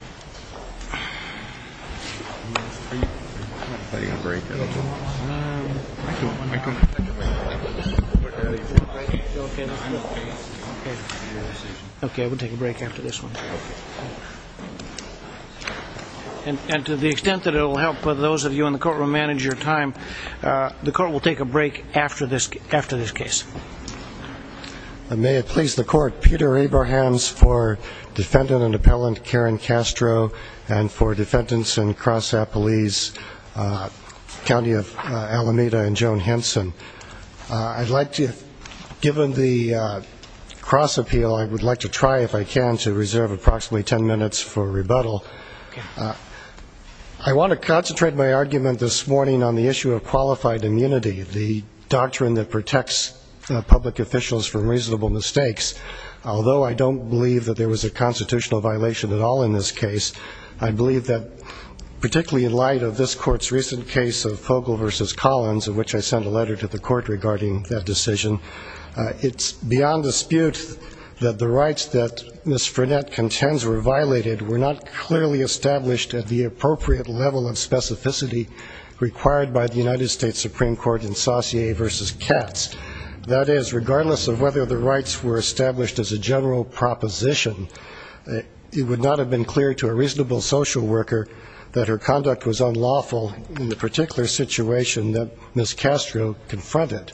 The court will take a break after this case. May it please the court, Peter Abrahams for defendant and appellant Karen Castro and for defendants in Cross Appelese County of Alameda and Joan Henson. I'd like to, given the cross appeal, I would like to try, if I can, to reserve approximately 10 minutes for rebuttal. I want to concentrate my argument this morning on the issue of qualified immunity, the doctrine that protects public officials from reasonable mistakes. Although I don't believe that there was a constitutional violation at all in this case, I believe that particularly in light of this court's recent case of Fogle v. Collins, of which I sent a letter to the court regarding that decision, it's beyond dispute that the rights that Ms. Frenette contends were violated were not clearly established at the appropriate level of specificity required by the United States Supreme Court in Saussure v. Katz. That is, regardless of whether the rights were established as a general proposition, it would not have been clear to a reasonable social worker that her conduct was unlawful in the particular situation that Ms. Castro confronted.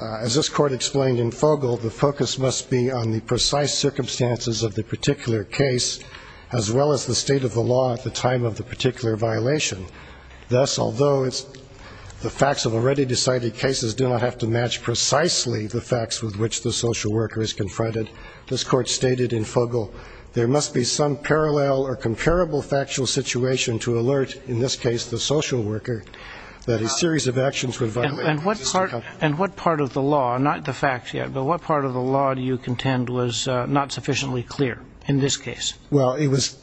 As this court explained in Fogle, the focus must be on the precise circumstances of the particular case, as well as the state of the law at the time of the particular violation. Thus, although the facts of already decided cases do not have to match precisely the facts with which the social worker is confronted, this court stated in Fogle there must be some parallel or comparable factual situation to alert, in this case, the social worker, that a series of actions were violated. And what part of the law, not the facts yet, but what part of the law do you contend was not sufficiently clear in this case? Well, it was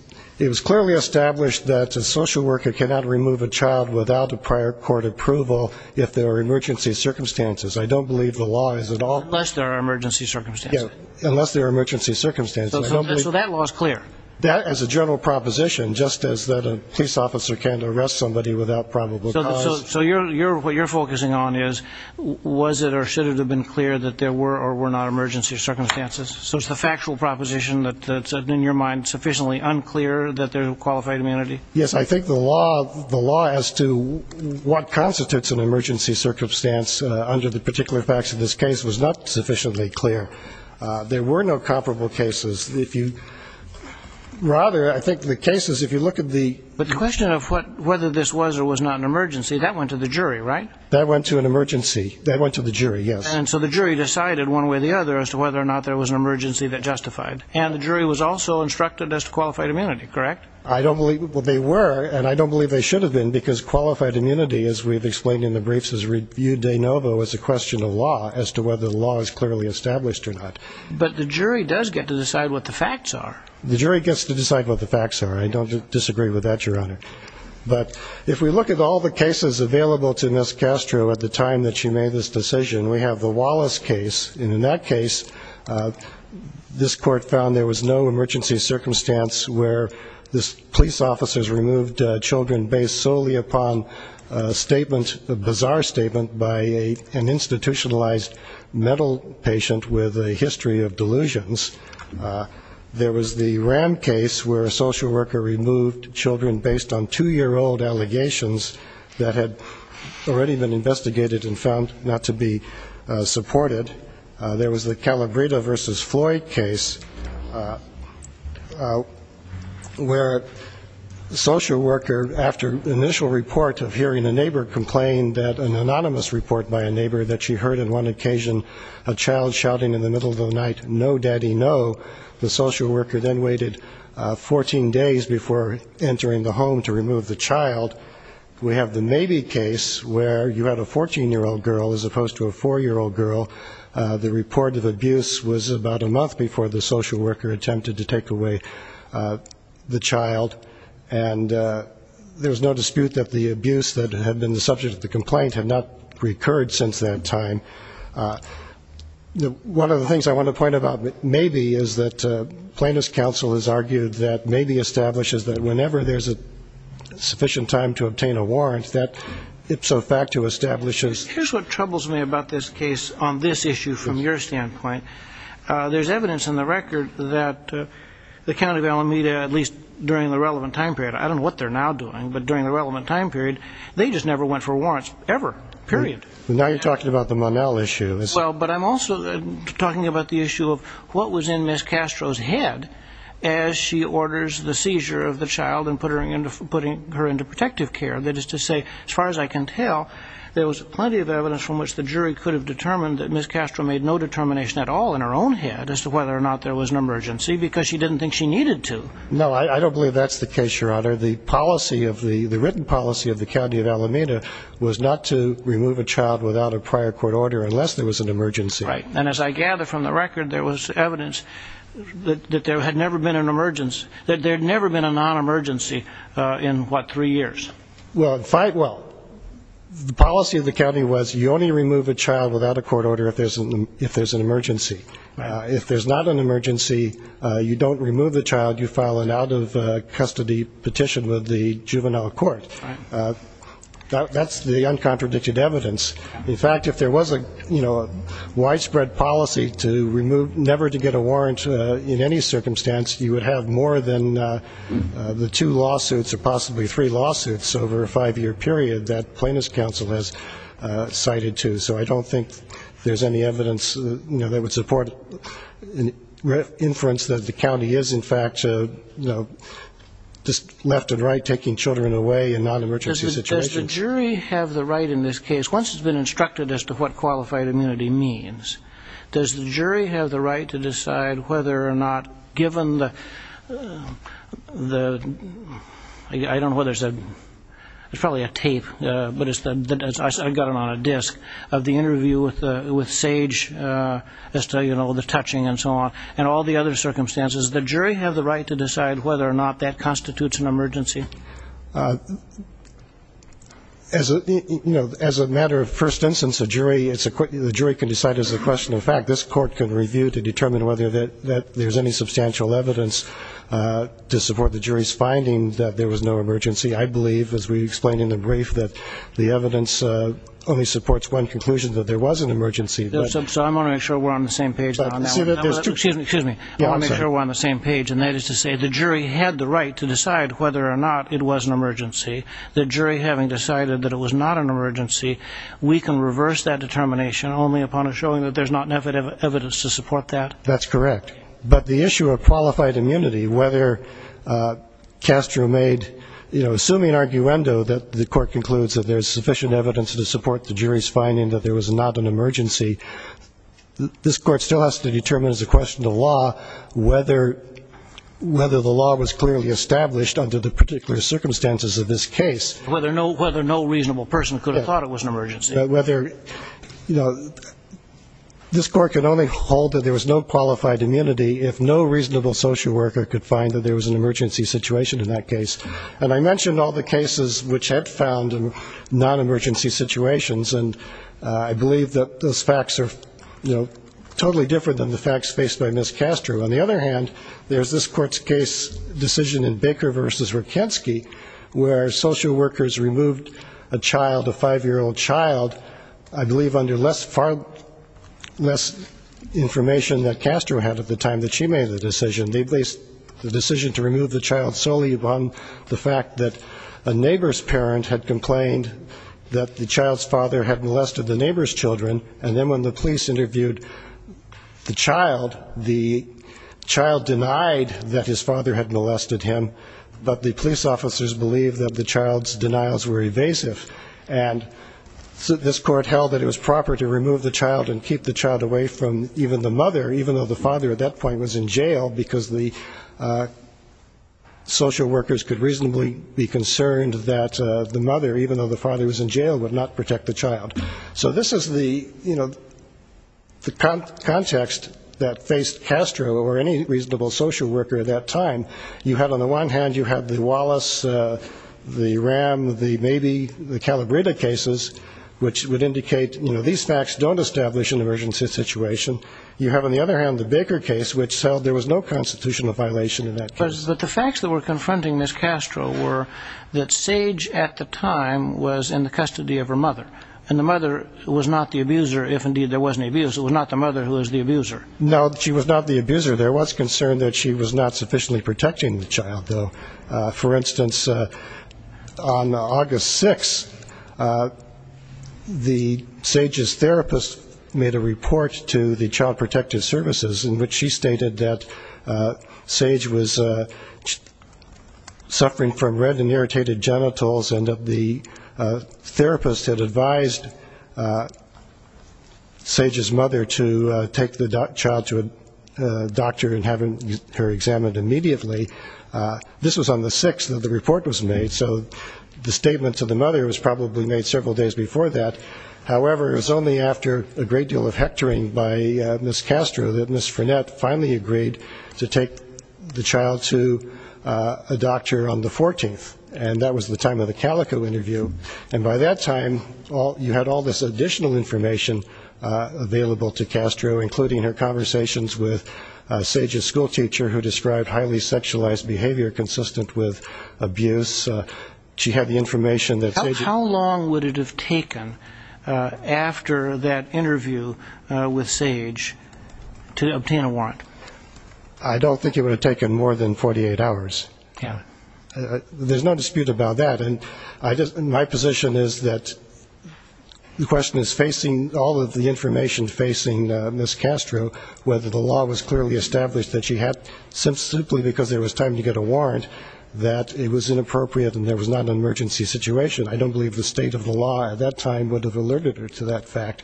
clearly established that a social worker cannot remove a child without a prior court approval if there are emergency circumstances. I don't believe the law is at all clear. Unless there are emergency circumstances. Unless there are emergency circumstances. So that law is clear. That as a general proposition, just as that a police officer can arrest somebody without probable cause. So what you're focusing on is, was it or should it have been clear that there were or were not emergency circumstances? So it's the factual proposition that's in your mind sufficiently unclear that there's a qualified immunity? Yes, I think the law as to what constitutes an emergency circumstance under the particular facts of this case was not sufficiently clear. There were no comparable cases. Rather, I think the case is, if you look at the. But the question of whether this was or was not an emergency, that went to the jury, right? That went to an emergency. That went to the jury, yes. And so the jury decided one way or the other as to whether or not there was an emergency that justified. And the jury was also instructed as to qualified immunity, correct? I don't believe they were, and I don't believe they should have been, because qualified immunity, as we've explained in the briefs, is reviewed de novo as a question of law, as to whether the law is clearly established or not. But the jury does get to decide what the facts are. The jury gets to decide what the facts are. I don't disagree with that, Your Honor. But if we look at all the cases available to Ms. Castro at the time that she made this decision, we have the Wallace case. And in that case, this court found there was no emergency circumstance where this police officer has removed children based solely upon a statement, a bizarre statement, by an institutionalized mental patient with a history of delusions. There was the RAM case where a social worker removed children based on two-year-old allegations that had already been investigated and found not to be supported. There was the Calabrita v. Floyd case where a social worker, after initial report of hearing a neighbor complain that an anonymous report by a neighbor that she heard on one occasion a child shouting in the middle of the night, no, daddy, no, the social worker then waited 14 days before entering the home to remove the child. We have the Mabee case where you had a 14-year-old girl as opposed to a 4-year-old girl. The report of abuse was about a month before the social worker attempted to take away the child. And there was no dispute that the abuse that had been the subject of the complaint had not recurred since that time. One of the things I want to point about Mabee is that Plaintiff's Counsel has argued that Mabee establishes that whenever there's a sufficient time to obtain a warrant, that ipso facto establishes... Here's what troubles me about this case on this issue from your standpoint. There's evidence in the record that the county of Alameda, at least during the relevant time period, I don't know what they're now doing, but during the relevant time period, they just never went for warrants ever, period. Now you're talking about the Monell issue. Well, but I'm also talking about the issue of what was in Ms. Castro's head as she orders the seizure of the child and putting her into protective care. That is to say, as far as I can tell, there was plenty of evidence from which the jury could have determined that Ms. Castro made no determination at all in her own head as to whether or not there was an emergency, because she didn't think she needed to. No, I don't believe that's the case, Your Honor. The written policy of the county of Alameda was not to remove a child without a prior court order unless there was an emergency. Right, and as I gather from the record, there was evidence that there had never been an emergency, that there had never been a non-emergency in, what, three years? Well, the policy of the county was you only remove a child without a court order if there's an emergency. If there's not an emergency, you don't remove the child. You file an out-of-custody petition with the juvenile court. That's the uncontradicted evidence. In fact, if there was a widespread policy to never to get a warrant in any circumstance, you would have more than the two lawsuits or possibly three lawsuits over a five-year period that Plaintiffs' Counsel has cited to. So I don't think there's any evidence that would support inference that the county is, in fact, just left and right taking children away in non-emergency situations. Does the jury have the right in this case, once it's been instructed as to what qualified immunity means, does the jury have the right to decide whether or not, given the, I don't know whether it's a, it's probably a tape, but I've got it on a disc, of the interview with Sage as to, you know, the touching and so on and all the other circumstances, does the jury have the right to decide whether or not that constitutes an emergency? As a matter of first instance, the jury can decide as a question of fact. This court can review to determine whether there's any substantial evidence to support the jury's finding that there was no emergency. I believe, as we explained in the brief, that the evidence only supports one conclusion, that there was an emergency. So I'm only sure we're on the same page now. Excuse me, excuse me. I want to make sure we're on the same page, and that is to say the jury had the right to decide whether or not it was an emergency. The jury, having decided that it was not an emergency, we can reverse that determination only upon showing that there's not enough evidence to support that? That's correct. But the issue of qualified immunity, whether Castro made, you know, assuming an arguendo that the court concludes that there's sufficient evidence to support the jury's finding that there was not an emergency, this court still has to determine as a question of law whether the law was clearly established under the particular circumstances of this case. Whether no reasonable person could have thought it was an emergency. Whether, you know, this court could only hold that there was no qualified immunity if no reasonable social worker could find that there was an emergency situation in that case. And I mentioned all the cases which had found non-emergency situations, and I believe that those facts are, you know, totally different than the facts faced by Ms. Castro. On the other hand, there's this court's case decision in Baker v. Rokensky where social workers removed a child, a five-year-old child, I believe under less information that Castro had at the time that she made the decision. They placed the decision to remove the child solely upon the fact that a neighbor's parent had complained that the child's father had molested the neighbor's children, and then when the police interviewed the child, the child denied that his father had molested him, but the police officers believed that the child's denials were evasive. And this court held that it was proper to remove the child and keep the child away from even the mother, even though the father at that point was in jail because the social workers could reasonably be concerned that the mother, even though the father was in jail, would not protect the child. So this is the context that faced Castro or any reasonable social worker at that time. You had on the one hand you had the Wallace, the Ram, the Calabrita cases, which would indicate these facts don't establish an emergency situation. You have on the other hand the Baker case, which held there was no constitutional violation in that case. But the facts that were confronting Ms. Castro were that Sage at the time was in the custody of her mother, and the mother was not the abuser if indeed there was an abuser. It was not the mother who was the abuser. No, she was not the abuser. There was concern that she was not sufficiently protecting the child, though. For instance, on August 6th, the Sage's therapist made a report to the Child Protective Services in which she stated that Sage was suffering from red and irritated genitals, and that the therapist had advised Sage's mother to take the child to a doctor and have her examined immediately. This was on the 6th that the report was made, so the statement to the mother was probably made several days before that. However, it was only after a great deal of hectoring by Ms. Castro that Ms. Frenette finally agreed to take the child to a doctor on the 14th, and that was the time of the Calico interview. And by that time, you had all this additional information available to Castro, including her conversations with Sage's schoolteacher, who described highly sexualized behavior consistent with abuse. How long would it have taken after that interview with Sage to obtain a warrant? I don't think it would have taken more than 48 hours. There's no dispute about that. My position is that the question is facing all of the information facing Ms. Castro, whether the law was clearly established that she had, simply because it was time to get a warrant, that it was inappropriate and there was not an emergency situation. I don't believe the state of the law at that time would have alerted her to that fact.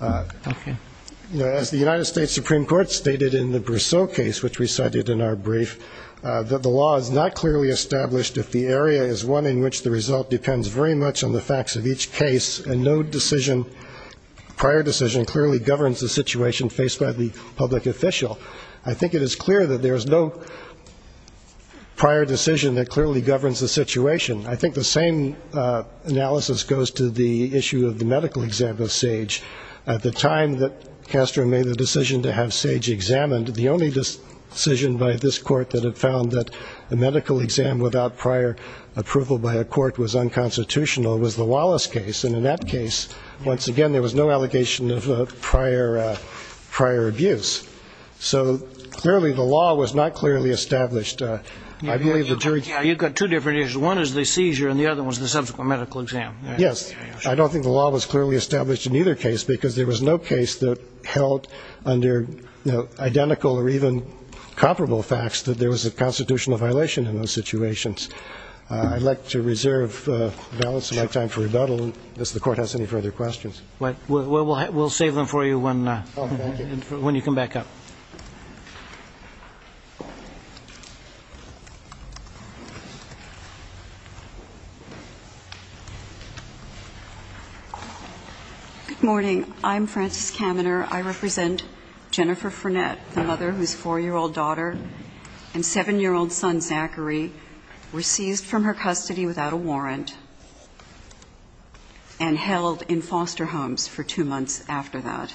As the United States Supreme Court stated in the Brousseau case, which we cited in our brief, that the law is not clearly established if the area is one in which the result depends very much on the facts of each case and no prior decision clearly governs the situation faced by the public official. I think it is clear that there is no prior decision that clearly governs the situation. I think the same analysis goes to the issue of the medical exam of Sage. At the time that Castro made the decision to have Sage examined, the only decision by this court that it found that a medical exam without prior approval by a court was unconstitutional was the Wallace case, and in that case, once again, there was no allegation of prior abuse. So clearly the law was not clearly established. You've got two different issues. One is the seizure and the other one is the subsequent medical exam. Yes. I don't think the law was clearly established in either case because there was no case that held under identical or even comparable facts that there was a constitutional violation in those situations. I'd like to reserve the balance of my time for rebuttal unless the court has any further questions. We'll save them for you when you come back up. Good morning. I'm Frances Kaminer. I represent Jennifer Furnett, the mother whose 4-year-old daughter and 7-year-old son, Zachary, were seized from her custody without a warrant and held in foster homes for two months after that.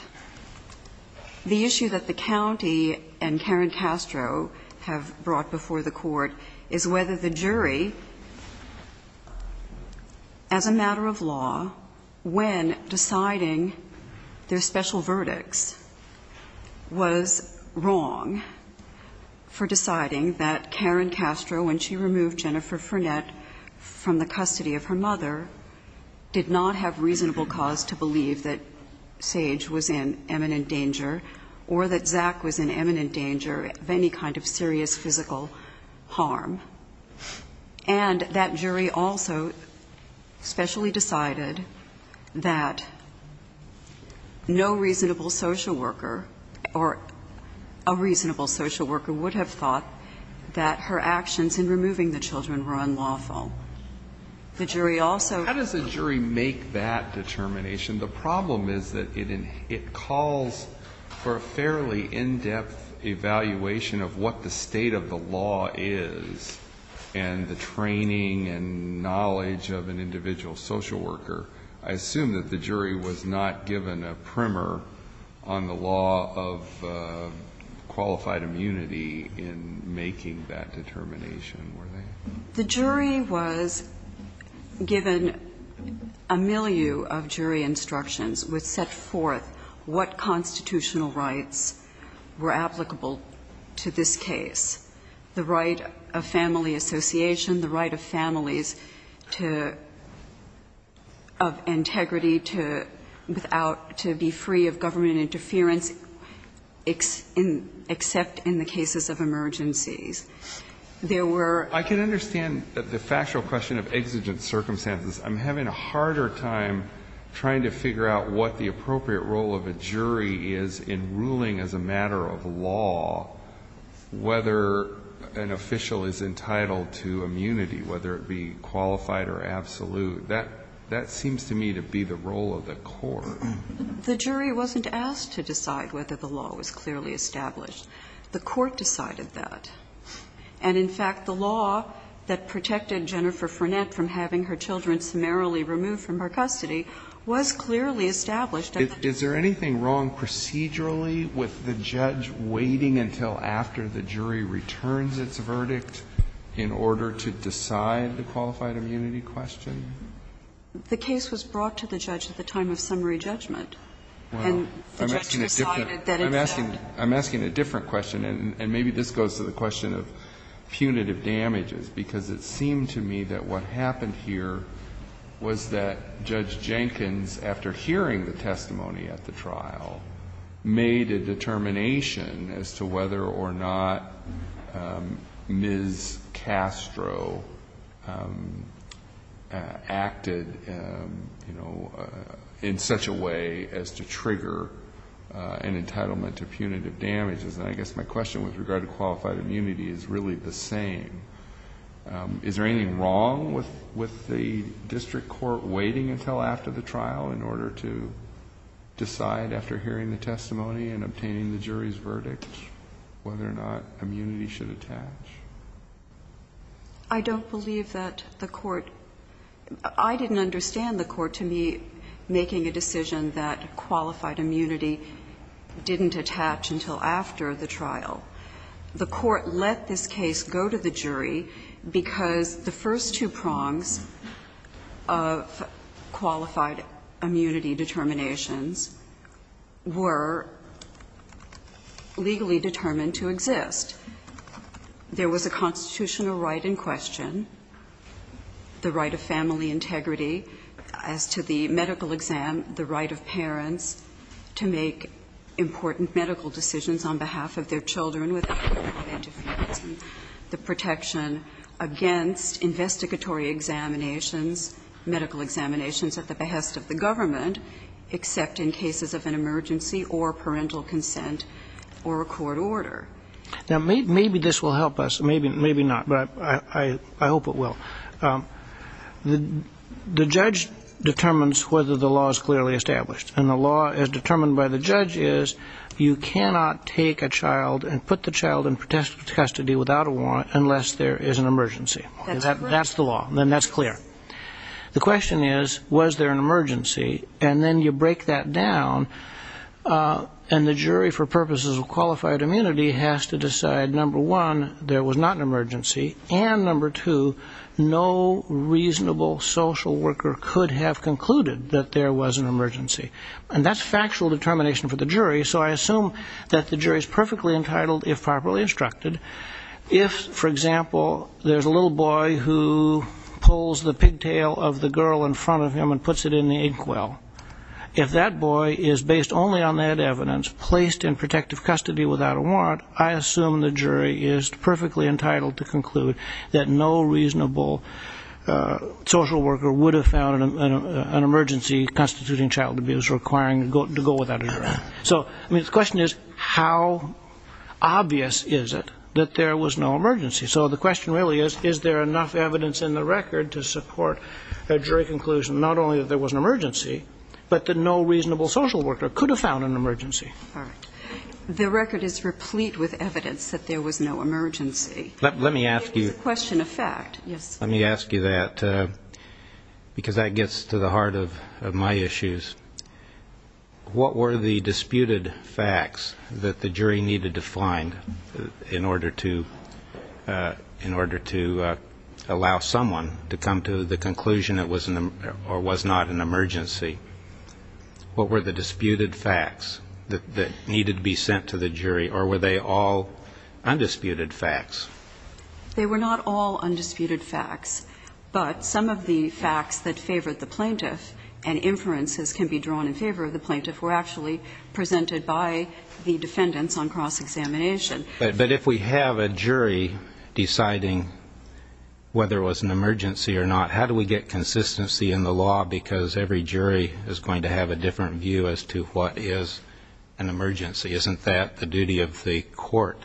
The issue that the county and Karen Castro have brought before the court is whether the jury, as a matter of law, when deciding their special verdicts, was wrong for deciding that Karen Castro, when she removed Jennifer Furnett from the custody of her mother, did not have reasonable cause to believe that Sage was in imminent danger or that Zach was in imminent danger of any kind of serious physical harm. And that jury also specially decided that no reasonable social worker or a reasonable social worker would have thought that her actions in removing the children were unlawful. The jury also ---- How does the jury make that determination? The problem is that it calls for a fairly in-depth evaluation of what the state of the law is and the training and knowledge of an individual social worker. I assume that the jury was not given a primer on the law of qualified immunity in making that determination, were they? The jury was given a milieu of jury instructions which set forth what constitutional rights were applicable to this case. The right of family association, the right of families to ---- of integrity to be free of government interference except in the cases of emergencies. There were ---- I can understand the factual question of exigent circumstances. I'm having a harder time trying to figure out what the appropriate role of a jury is in ruling as a matter of law whether an official is entitled to immunity, whether it be qualified or absolute. That seems to me to be the role of the court. The jury wasn't asked to decide whether the law was clearly established. The court decided that. And in fact, the law that protected Jennifer Frenette from having her children summarily removed from her custody was clearly established. Is there anything wrong procedurally with the judge waiting until after the jury returns its verdict in order to decide the qualified immunity question? The case was brought to the judge at the time of summary judgment. Well, I'm asking a different question, and maybe this goes to the question of punitive damages, because it seemed to me that what happened here was that Judge Jenkins, after hearing the testimony at the trial, made a determination as to whether or not Ms. Castro acted, you know, in such a way as to trigger an entitlement to punitive damages. And I guess my question with regard to qualified immunity is really the same. Is there anything wrong with the district court waiting until after the trial in order to decide, after hearing the testimony and obtaining the jury's verdict, whether or not immunity should attach? I don't believe that the court – I didn't understand the court, to me, making a decision that qualified immunity didn't attach until after the trial. The court let this case go to the jury because the first two prongs of qualified immunity determinations were legally determined to exist. There was a constitutional right in question, the right of family integrity as to the medical exam, the right of parents to make important medical decisions on behalf of their children without the protection against investigatory examinations, medical examinations at the behest of the government, except in cases of an emergency or parental consent or a court order. Now, maybe this will help us. Maybe not. But I hope it will. The judge determines whether the law is clearly established. And the law, as determined by the judge, is you cannot take a child and put the child in custody without a warrant unless there is an emergency. That's the law. Then that's clear. The question is, was there an emergency? And then you break that down, and the jury, for purposes of qualified immunity, has to decide, number one, there was not an emergency, and, number two, no reasonable social worker could have concluded that there was an emergency. And that's factual determination for the jury, so I assume that the jury is perfectly entitled, if properly instructed, if, for example, there's a little boy who pulls the pigtail of the girl in front of him and puts it in the inkwell. If that boy is based only on that evidence, placed in protective custody without a warrant, I assume the jury is perfectly entitled to conclude that no reasonable social worker would have found an emergency constituting child abuse requiring to go without a warrant. So, I mean, the question is, how obvious is it that there was no emergency? So the question really is, is there enough evidence in the record to support a jury conclusion, not only that there was an emergency, but that no reasonable social worker could have found an emergency? All right. The record is replete with evidence that there was no emergency. Let me ask you. It is a question of fact. Yes. Let me ask you that, because that gets to the heart of my issues. What were the disputed facts that the jury needed to find in order to allow someone to come to the conclusion it was not an emergency? What were the disputed facts that needed to be sent to the jury, or were they all undisputed facts? They were not all undisputed facts, but some of the facts that favored the plaintiff and inferences can be drawn in favor of the plaintiff were actually presented by the defendants on cross-examination. But if we have a jury deciding whether it was an emergency or not, how do we get consistency in the law? Because every jury is going to have a different view as to what is an emergency. Isn't that the duty of the court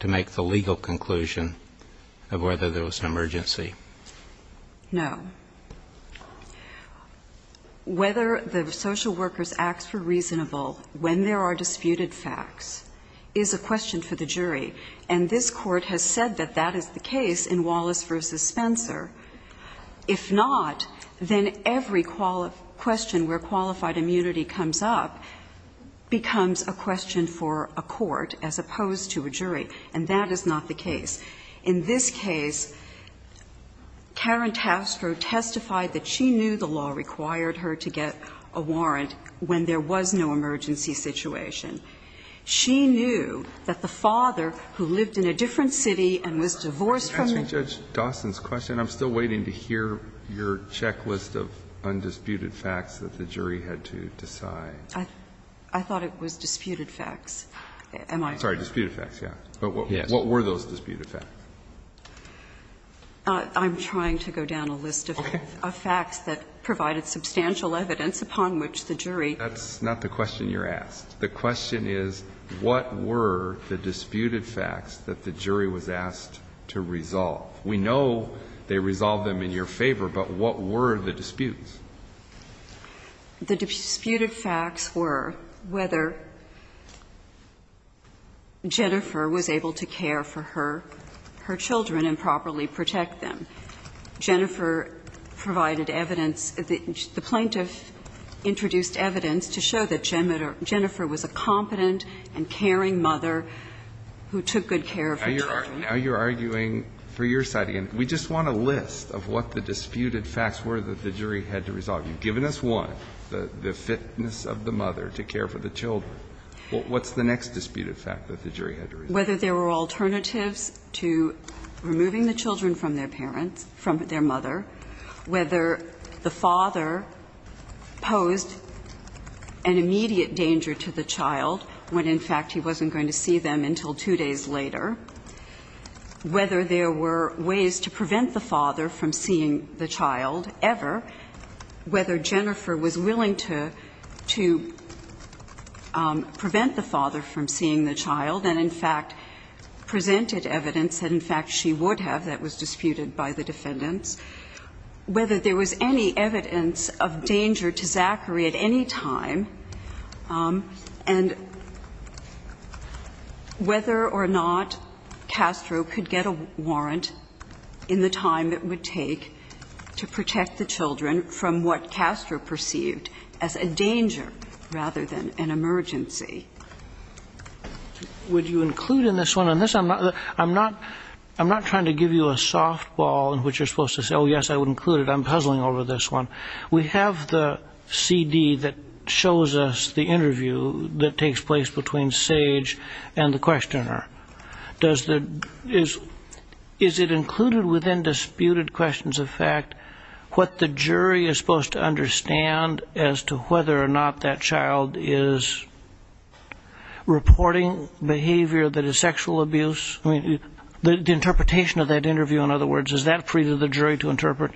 to make the legal conclusion of whether there was an emergency? No. Whether the social workers acts were reasonable when there are disputed facts is a question for the jury, and this Court has said that that is the case in Wallace v. Spencer. If not, then every question where qualified immunity comes up becomes a question for a court as opposed to a jury, and that is not the case. In this case, Karen Tasker testified that she knew the law required her to get a warrant when there was no emergency situation. She knew that the father, who lived in a different city and was divorced from the judge. Can you answer Judge Dawson's question? I'm still waiting to hear your checklist of undisputed facts that the jury had to decide. I thought it was disputed facts. Am I correct? Sorry, disputed facts, yes. Yes. But what were those disputed facts? I'm trying to go down a list of facts that provided substantial evidence upon which the jury. That's not the question you're asked. The question is what were the disputed facts that the jury was asked to resolve? We know they resolved them in your favor, but what were the disputes? The disputed facts were whether Jennifer was able to care for her children and properly protect them. Jennifer provided evidence, the plaintiff introduced evidence to show that Jennifer was a competent and caring mother who took good care of her children. Now you're arguing for your side again. We just want a list of what the disputed facts were that the jury had to resolve. You've given us one, the fitness of the mother to care for the children. What's the next disputed fact that the jury had to resolve? Whether there were alternatives to removing the children from their parents, from their mother, whether the father posed an immediate danger to the child when, in fact, he wasn't going to see them until two days later, whether there were ways to prevent the father from seeing the child ever, whether Jennifer was willing to prevent the father from seeing the child and, in fact, presented evidence that, in fact, she would have, that was disputed by the defendants, whether there was any evidence of danger to Zachary at any time, and whether or not Castro could get a warrant in the time it would take to protect the children from what Castro perceived as a danger rather than an emergency. Would you include in this one? I'm not trying to give you a softball in which you're supposed to say, oh, yes, I would include it. I'm puzzling over this one. We have the CD that shows us the interview that takes place between Sage and the questioner. Is it included within disputed questions of fact what the jury is supposed to understand as to whether or not that child is reporting behavior that is sexual abuse? I mean, the interpretation of that interview, in other words, is that free to the jury to interpret?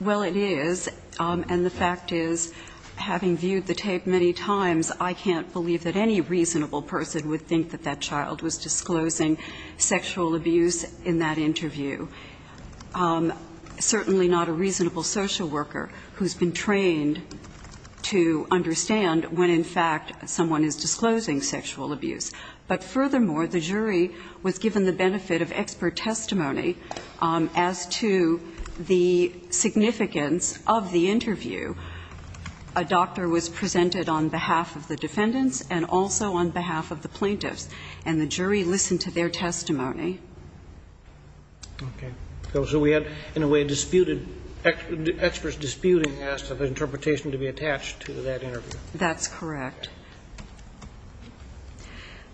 Well, it is. And the fact is, having viewed the tape many times, I can't believe that any reasonable person would think that that child was disclosing sexual abuse in that interview, certainly not a reasonable social worker who's been trained to understand when, in fact, someone is disclosing sexual abuse. But furthermore, the jury was given the benefit of expert testimony as to the significance of the interview. A doctor was presented on behalf of the defendants and also on behalf of the plaintiffs, and the jury listened to their testimony. Okay. So we had, in a way, disputed, experts disputing as to the interpretation to be attached to that interview. That's correct.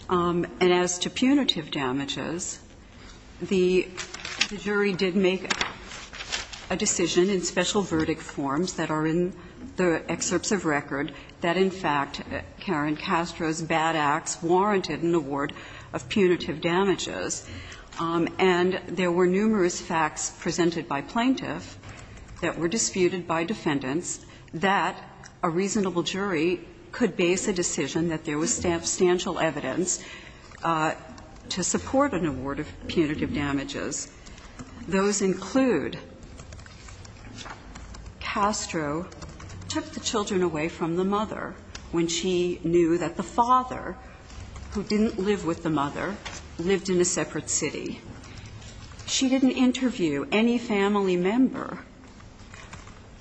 And as to punitive damages, the jury did make a decision in special verdict forms that are in the excerpts of record that, in fact, Karen Castro's bad acts warranted an award of punitive damages. And there were numerous facts presented by plaintiff that were disputed by defendants that a reasonable jury could base a decision that there was substantial evidence to support an award of punitive damages. Those include Castro took the children away from the mother when she knew that the father, who didn't live with the mother, lived in a separate city. She didn't interview any family member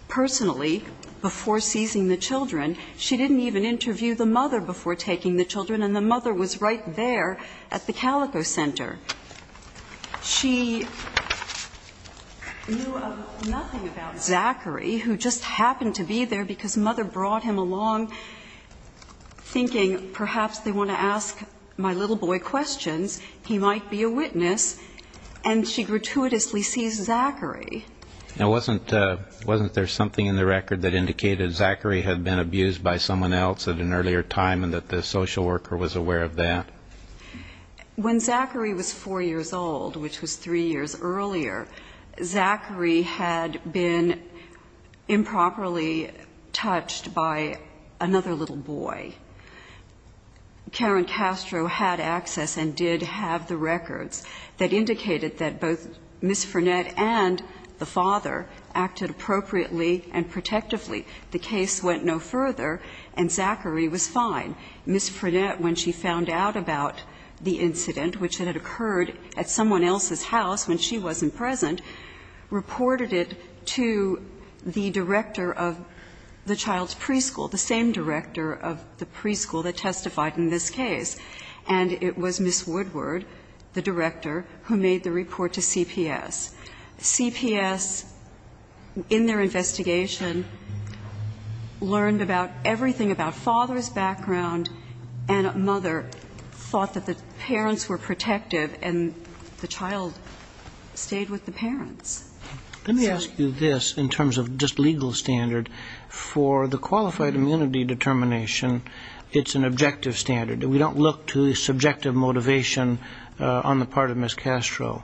personally before seizing the children. She didn't even interview the mother before taking the children. And the mother was right there at the Calico Center. She knew nothing about Zachary, who just happened to be there because mother brought him along, thinking perhaps they want to ask my little boy questions, he might be a And she gratuitously sees Zachary. Now, wasn't there something in the record that indicated Zachary had been abused by someone else at an earlier time and that the social worker was aware of that? When Zachary was 4 years old, which was 3 years earlier, Zachary had been improperly touched by another little boy. Karen Castro had access and did have the records that indicated that both Ms. Frenette and the father acted appropriately and protectively. The case went no further, and Zachary was fine. Ms. Frenette, when she found out about the incident, which had occurred at someone else's house when she wasn't present, reported it to the director of the child's preschool, the same director of the preschool that testified in this case. And it was Ms. Woodward, the director, who made the report to CPS. CPS, in their investigation, learned about everything about father's background and mother thought that the parents were protective and the child stayed with the parents. Let me ask you this in terms of just legal standard. For the qualified immunity determination, it's an objective standard. We don't look to subjective motivation on the part of Ms. Castro.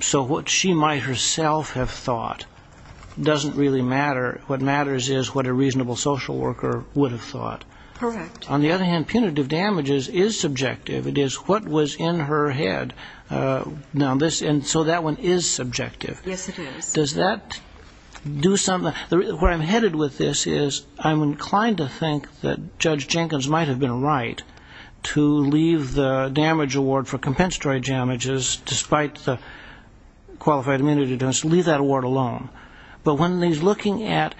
So what she might herself have thought doesn't really matter. What matters is what a reasonable social worker would have thought. Correct. On the other hand, punitive damages is subjective. It is what was in her head. And so that one is subjective. Yes, it is. Does that do something? Where I'm headed with this is I'm inclined to think that Judge Jenkins might have been right to leave the damage award for compensatory damages, despite the qualified immunity determination, to leave that award alone. But when he's looking at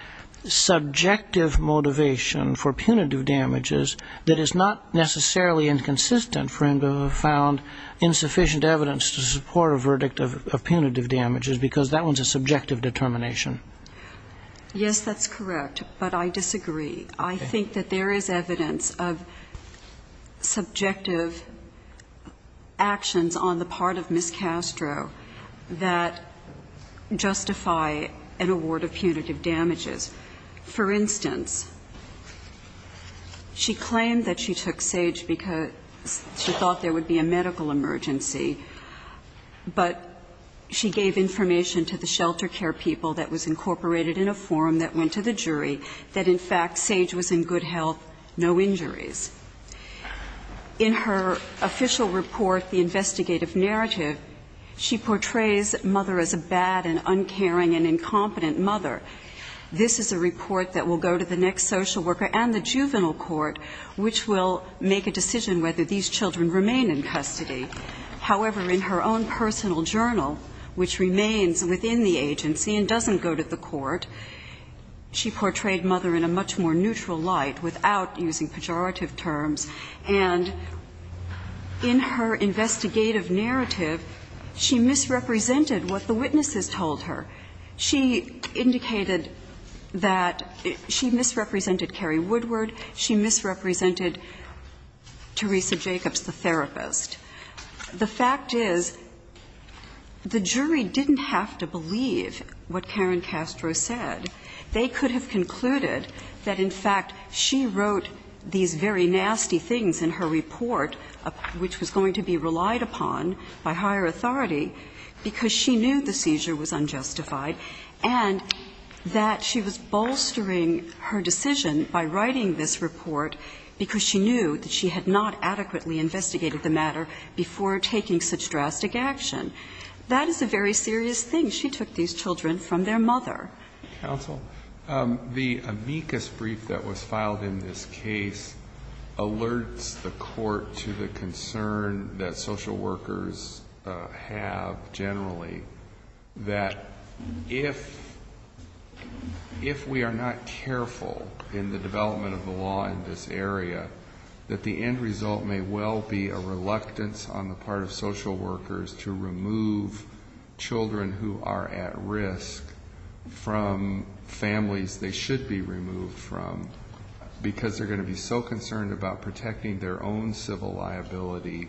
subjective motivation for punitive damages that is not necessarily inconsistent for him to have found insufficient evidence to support a verdict of punitive damages because that one's a subjective determination. Yes, that's correct, but I disagree. I think that there is evidence of subjective actions on the part of Ms. Castro that justify an award of punitive damages. For instance, she claimed that she took Sage because she thought there would be a medical emergency, but she gave information to the shelter care people that was incorporated in a form that went to the jury that, in fact, Sage was in good health, no injuries. In her official report, the investigative narrative, she portrays Mother as a bad and uncaring and incompetent mother. This is a report that will go to the next social worker and the juvenile court, which will make a decision whether these children remain in custody. However, in her own personal journal, which remains within the agency and doesn't go to the court, she portrayed Mother in a much more neutral light without using pejorative terms. And in her investigative narrative, she misrepresented what the witnesses told her. She indicated that she misrepresented Carrie Woodward. She misrepresented Teresa Jacobs, the therapist. The fact is the jury didn't have to believe what Karen Castro said. They could have concluded that, in fact, she wrote these very nasty things in her report, which was going to be relied upon by higher authority, because she knew the case was justified, and that she was bolstering her decision by writing this report because she knew that she had not adequately investigated the matter before taking such drastic action. That is a very serious thing. She took these children from their mother. Roberts. The amicus brief that was filed in this case alerts the court to the concern that social workers have generally, that if we are not careful in the development of the law in this area, that the end result may well be a reluctance on the part of social workers to remove children who are at risk from families they should be removed from, because they're going to be so concerned about protecting their own civil liability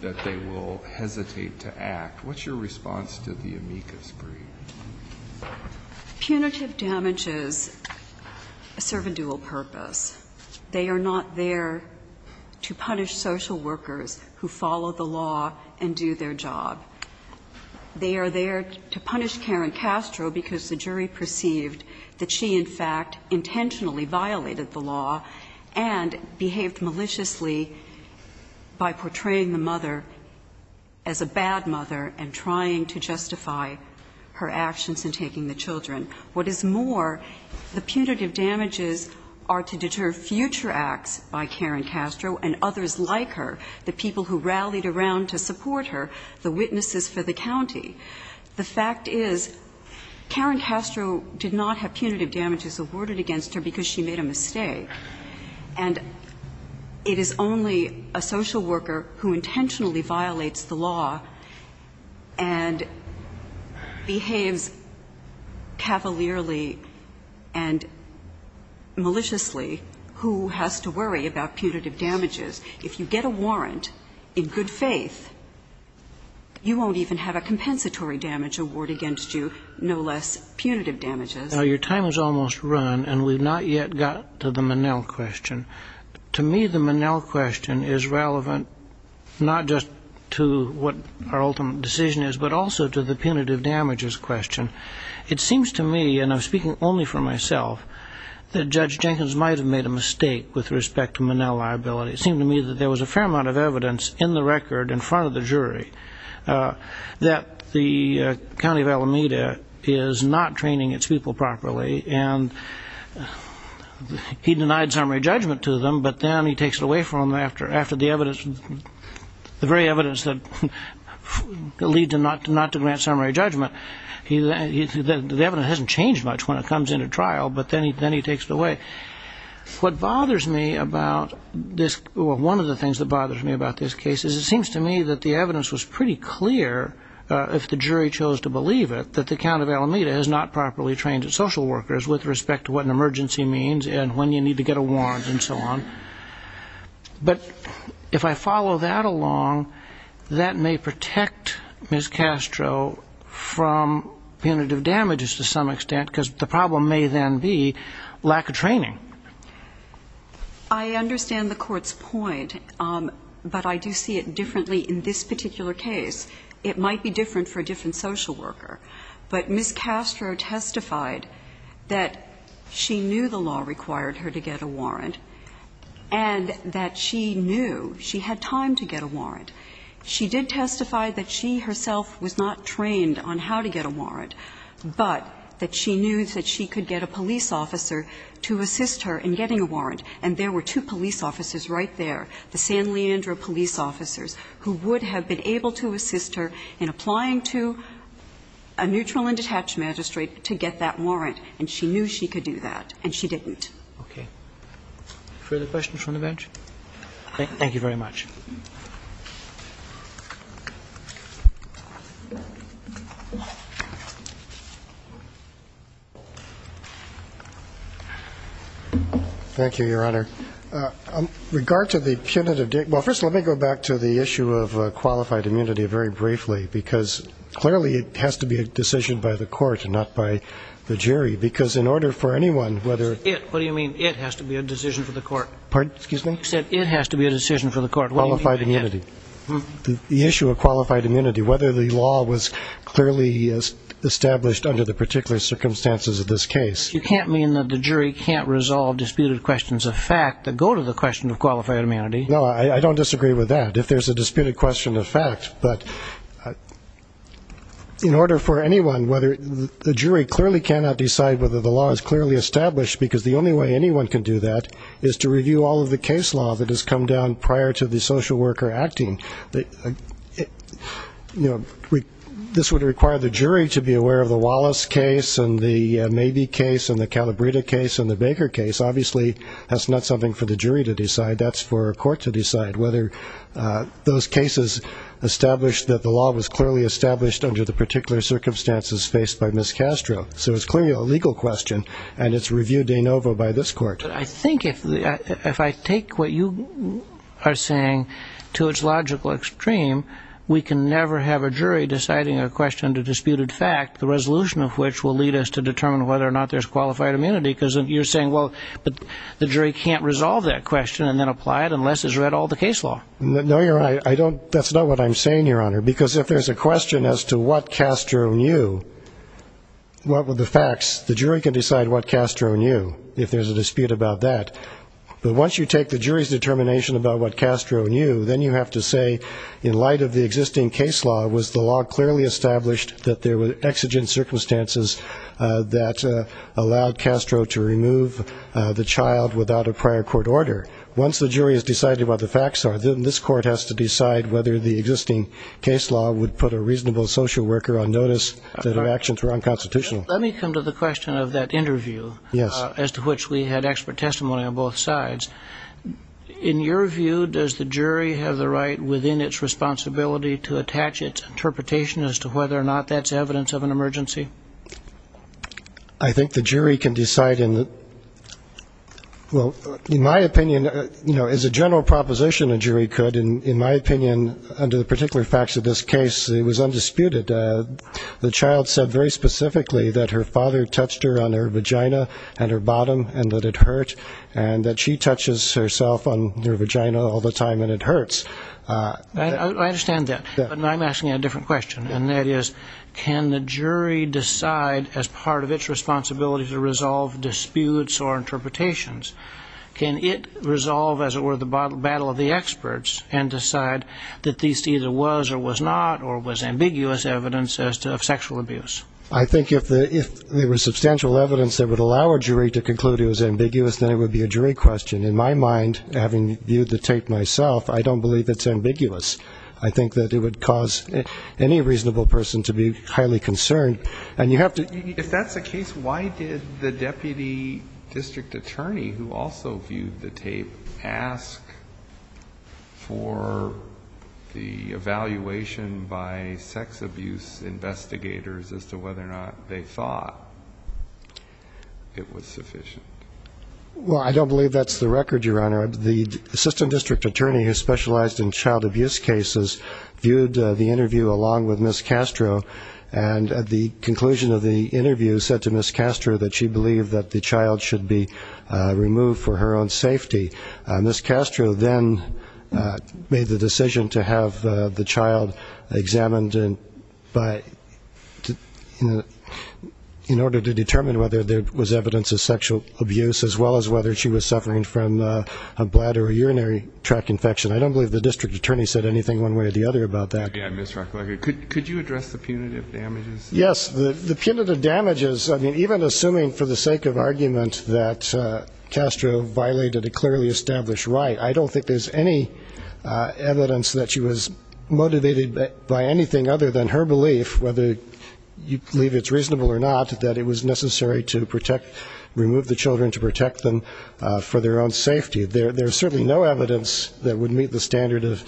that they will hesitate to act. What's your response to the amicus brief? Punitive damages serve a dual purpose. They are not there to punish social workers who follow the law and do their job. They are there to punish Karen Castro because the jury perceived that she, in fact, intentionally violated the law and behaved maliciously by portraying the mother as a bad mother and trying to justify her actions in taking the children. What is more, the punitive damages are to deter future acts by Karen Castro and others like her, the people who rallied around to support her, the witnesses for the county. The fact is Karen Castro did not have punitive damages awarded against her because she made a mistake, and it is only a social worker who intentionally violates the law and behaves cavalierly and maliciously who has to worry about punitive damages. If you get a warrant in good faith, you won't even have a compensatory damage award against you, no less punitive damages. Now, your time has almost run, and we've not yet got to the Manel question. To me, the Manel question is relevant not just to what our ultimate decision is, but also to the punitive damages question. It seems to me, and I'm speaking only for myself, that Judge Jenkins might have made a mistake with respect to Manel liability. It seemed to me that there was a fair amount of evidence in the record in front of the jury that the county of Alameda is not training its people properly, and he denied summary judgment to them, but then he takes it away from them after the very evidence that leads him not to grant summary judgment. The evidence hasn't changed much when it comes into trial, but then he takes it away. What bothers me about this, well, one of the things that bothers me about this case is it seems to me that the evidence was pretty clear, if the jury chose to believe it, that the county of Alameda is not properly trained its social workers with respect to what an emergency means and when you need to get a warrant and so on. But if I follow that along, that may protect Ms. Castro from punitive damages to some extent because the problem may then be lack of training. I understand the Court's point, but I do see it differently in this particular case. It might be different for a different social worker, but Ms. Castro testified that she knew the law required her to get a warrant and that she knew she had time to get a warrant. She did testify that she herself was not trained on how to get a warrant, but that she knew that she could get a police officer to assist her in getting a warrant, and there were two police officers right there, the San Leandro police officers, who would have been able to assist her in applying to a neutral and detached magistrate to get that warrant, and she knew she could do that, and she didn't. Okay. Further questions from the bench? Thank you very much. Thank you, Your Honor. In regard to the punitive damages, well, first let me go back to the issue of disputed questions of fact, and not by the jury, because in order for anyone whether... What do you mean, it has to be a decision for the Court? Pardon? Excuse me? You said it has to be a decision for the Court. Qualified immunity. The issue of qualified immunity, whether the law was clearly established under the particular circumstances of this case. But you can't mean that the jury can't resolve disputed questions of fact that go to the question of qualified immunity. No, I don't disagree with that, if there's a disputed question of fact. But in order for anyone, whether the jury clearly cannot decide whether the law is clearly established, because the only way anyone can do that is to review all of the case law that has come down prior to the social worker acting. You know, this would require the jury to be aware of the Wallace case and the Mabee case and the Calabrita case and the Baker case. Obviously, that's not something for the jury to decide. That's for a Court to decide whether those cases established that the law was clearly established under the particular circumstances faced by Ms. Castro. So it's clearly a legal question, and it's reviewed de novo by this Court. I think if I take what you are saying to its logical extreme, we can never have a jury deciding a question of disputed fact, the resolution of which will lead us to determine whether or not there's qualified immunity, because you're saying, well, the jury can't resolve that question and then apply it unless it's read all the case law. No, you're right. That's not what I'm saying, Your Honor, because if there's a question as to what Castro knew, what were the facts, the jury can decide what Castro knew, if there's a dispute about that. But once you take the jury's determination about what Castro knew, then you have to say, in light of the existing case law, was the law clearly established that there were exigent circumstances that allowed Castro to remove the child without a prior court order? Once the jury has decided what the facts are, then this Court has to decide whether the existing case law would put a reasonable social worker on notice that her actions were unconstitutional. Let me come to the question of that interview as to which we had expert testimony on both sides. In your view, does the jury have the right within its responsibility to attach its interpretation as to whether or not that's evidence of an emergency? I think the jury can decide. Well, in my opinion, as a general proposition, a jury could. In my opinion, under the particular facts of this case, it was undisputed. The child said very specifically that her father touched her on her vagina and her bottom and that it hurt, and that she touches herself on her vagina all the time and it hurts. I understand that, but I'm asking a different question, and that is, can the jury decide as part of its responsibility to resolve disputes or interpretations? Can it resolve, as it were, the battle of the experts and decide that this either was or was not or was ambiguous evidence as to sexual abuse? I think if there was substantial evidence that would allow a jury to conclude it was ambiguous, then it would be a jury question. In my mind, having viewed the tape myself, I don't believe it's ambiguous. I think that it would cause any reasonable person to be highly concerned. If that's the case, why did the deputy district attorney, who also viewed the tape, ask for the evaluation by sex abuse investigators as to whether or not they thought it was sufficient? Well, I don't believe that's the record, Your Honor. The assistant district attorney who specialized in child abuse cases viewed the interview along with Ms. Castro, and at the conclusion of the interview said to Ms. Castro that she believed that the child should be removed for her own safety. Ms. Castro then made the decision to have the child examined in order to determine whether there was evidence of sexual abuse as well as whether she was suffering from a bladder or urinary tract infection. I don't believe the district attorney said anything one way or the other about that. Again, Mr. Rucker, could you address the punitive damages? Yes. The punitive damages, I mean, even assuming for the sake of argument that Castro violated a clearly established right, I don't think there's any evidence that she was motivated by anything other than her belief, whether you believe it's reasonable or not, that it was necessary to remove the children to protect them for their own safety. There's certainly no evidence that would meet the standard of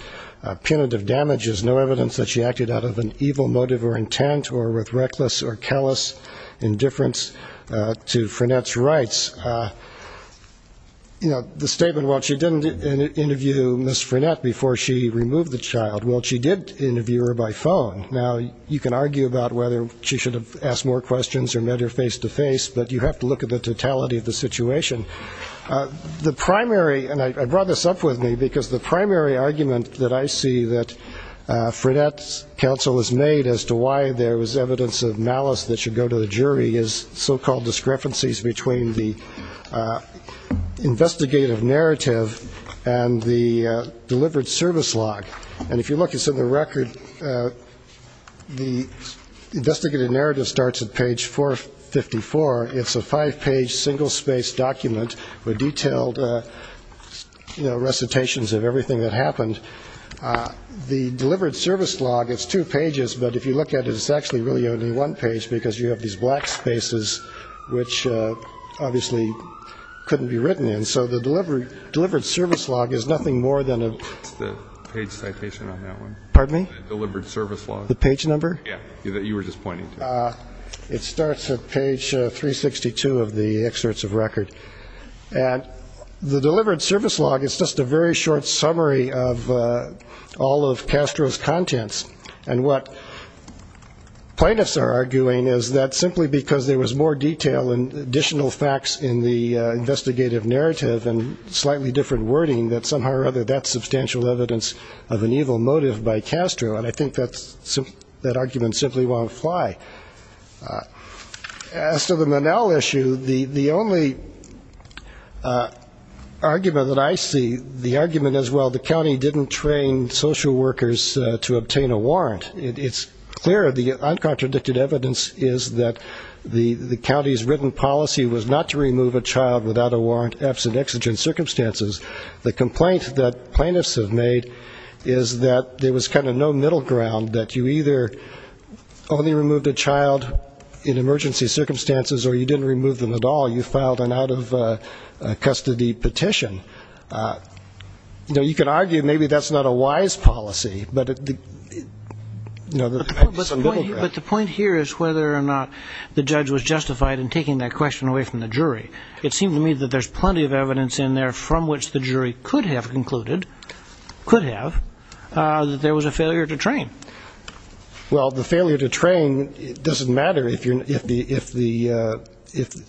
punitive damages, no evidence that she acted out of an evil motive or intent or with reckless or callous indifference to Frenette's rights. The statement, well, she didn't interview Ms. Frenette before she removed the child. Well, she did interview her by phone. Now, you can argue about whether she should have asked more questions or met her face-to-face, but you have to look at the totality of the situation. The primary, and I brought this up with me because the primary argument that I see that Frenette's counsel has made as to why there was evidence of malice that should go to the jury is so-called discrepancies between the investigative narrative and the delivered service log. And if you look, it's in the record. The investigative narrative starts at page 454. It's a five-page single-space document with detailed recitations of everything that happened. The delivered service log is two pages, but if you look at it, it's actually really only one page because you have these black spaces, which obviously couldn't be written in. So the delivered service log is nothing more than a page citation on that one. Pardon me? Delivered service log. The page number? Yeah, that you were just pointing to. It starts at page 362 of the excerpts of record. And the delivered service log is just a very short summary of all of Castro's contents. And what plaintiffs are arguing is that simply because there was more detail and additional facts in the investigative narrative and slightly different wording, that somehow or other that's substantial evidence of an evil motive by Castro. And I think that argument simply won't fly. As to the Manal issue, the only argument that I see, the argument as well, the county didn't train social workers to obtain a warrant. It's clear the uncontradicted evidence is that the county's written policy was not to remove a child without a warrant, absent exigent circumstances. The complaint that plaintiffs have made is that there was kind of no middle ground, that you either only removed a child in emergency circumstances or you didn't remove them at all, you filed an out-of-custody petition. You can argue maybe that's not a wise policy. But the point here is whether or not the judge was justified in taking that question away from the jury. It seems to me that there's plenty of evidence in there from which the jury could have concluded, could have, that there was a failure to train. Well, the failure to train doesn't matter if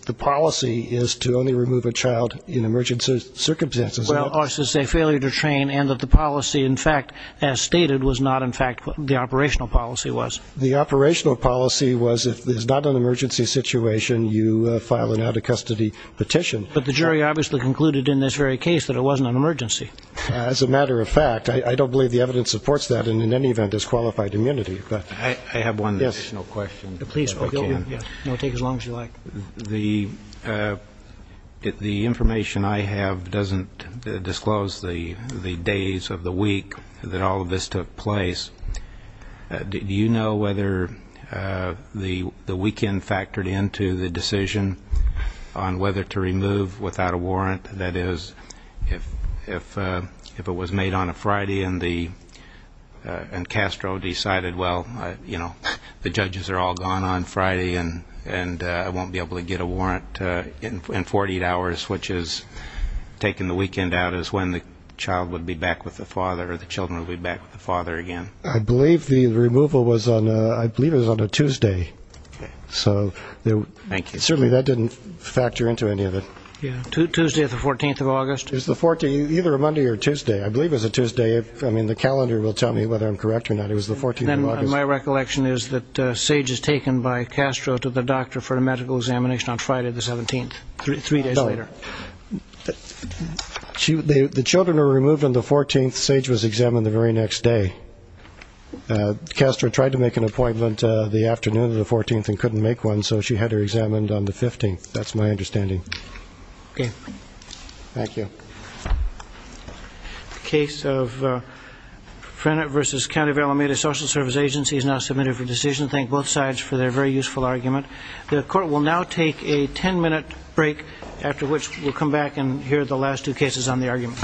the policy is to only remove a child in emergency circumstances, does it? Well, it's a failure to train and that the policy, in fact, as stated, was not in fact what the operational policy was. The operational policy was if it's not an emergency situation, you file an out-of-custody petition. But the jury obviously concluded in this very case that it wasn't an emergency. As a matter of fact, I don't believe the evidence supports that, and in any event disqualified immunity. I have one additional question, if I can. No, take as long as you like. The information I have doesn't disclose the days of the week that all of this took place. Do you know whether the weekend factored into the decision on whether to remove without a warrant? That is, if it was made on a Friday and Castro decided, well, you know, the judges are all gone on Friday and I won't be able to get a warrant in 48 hours, which is taking the weekend out is when the child would be back with the father or the children would be back with the father again. I believe the removal was on a Tuesday. So certainly that didn't factor into any of it. Tuesday or the 14th of August? It was either a Monday or a Tuesday. I believe it was a Tuesday. I mean, the calendar will tell me whether I'm correct or not. My recollection is that Sage was taken by Castro to the doctor for a medical examination on Friday the 17th, three days later. The children were removed on the 14th. Sage was examined the very next day. Castro tried to make an appointment the afternoon of the 14th and couldn't make one, so she had her examined on the 15th. That's my understanding. Okay. Thank you. The case of Frannert v. County of Alameda Social Service Agency is now submitted for decision. Thank both sides for their very useful argument. The Court will now take a ten-minute break, after which we'll come back and hear the last two cases on the argument.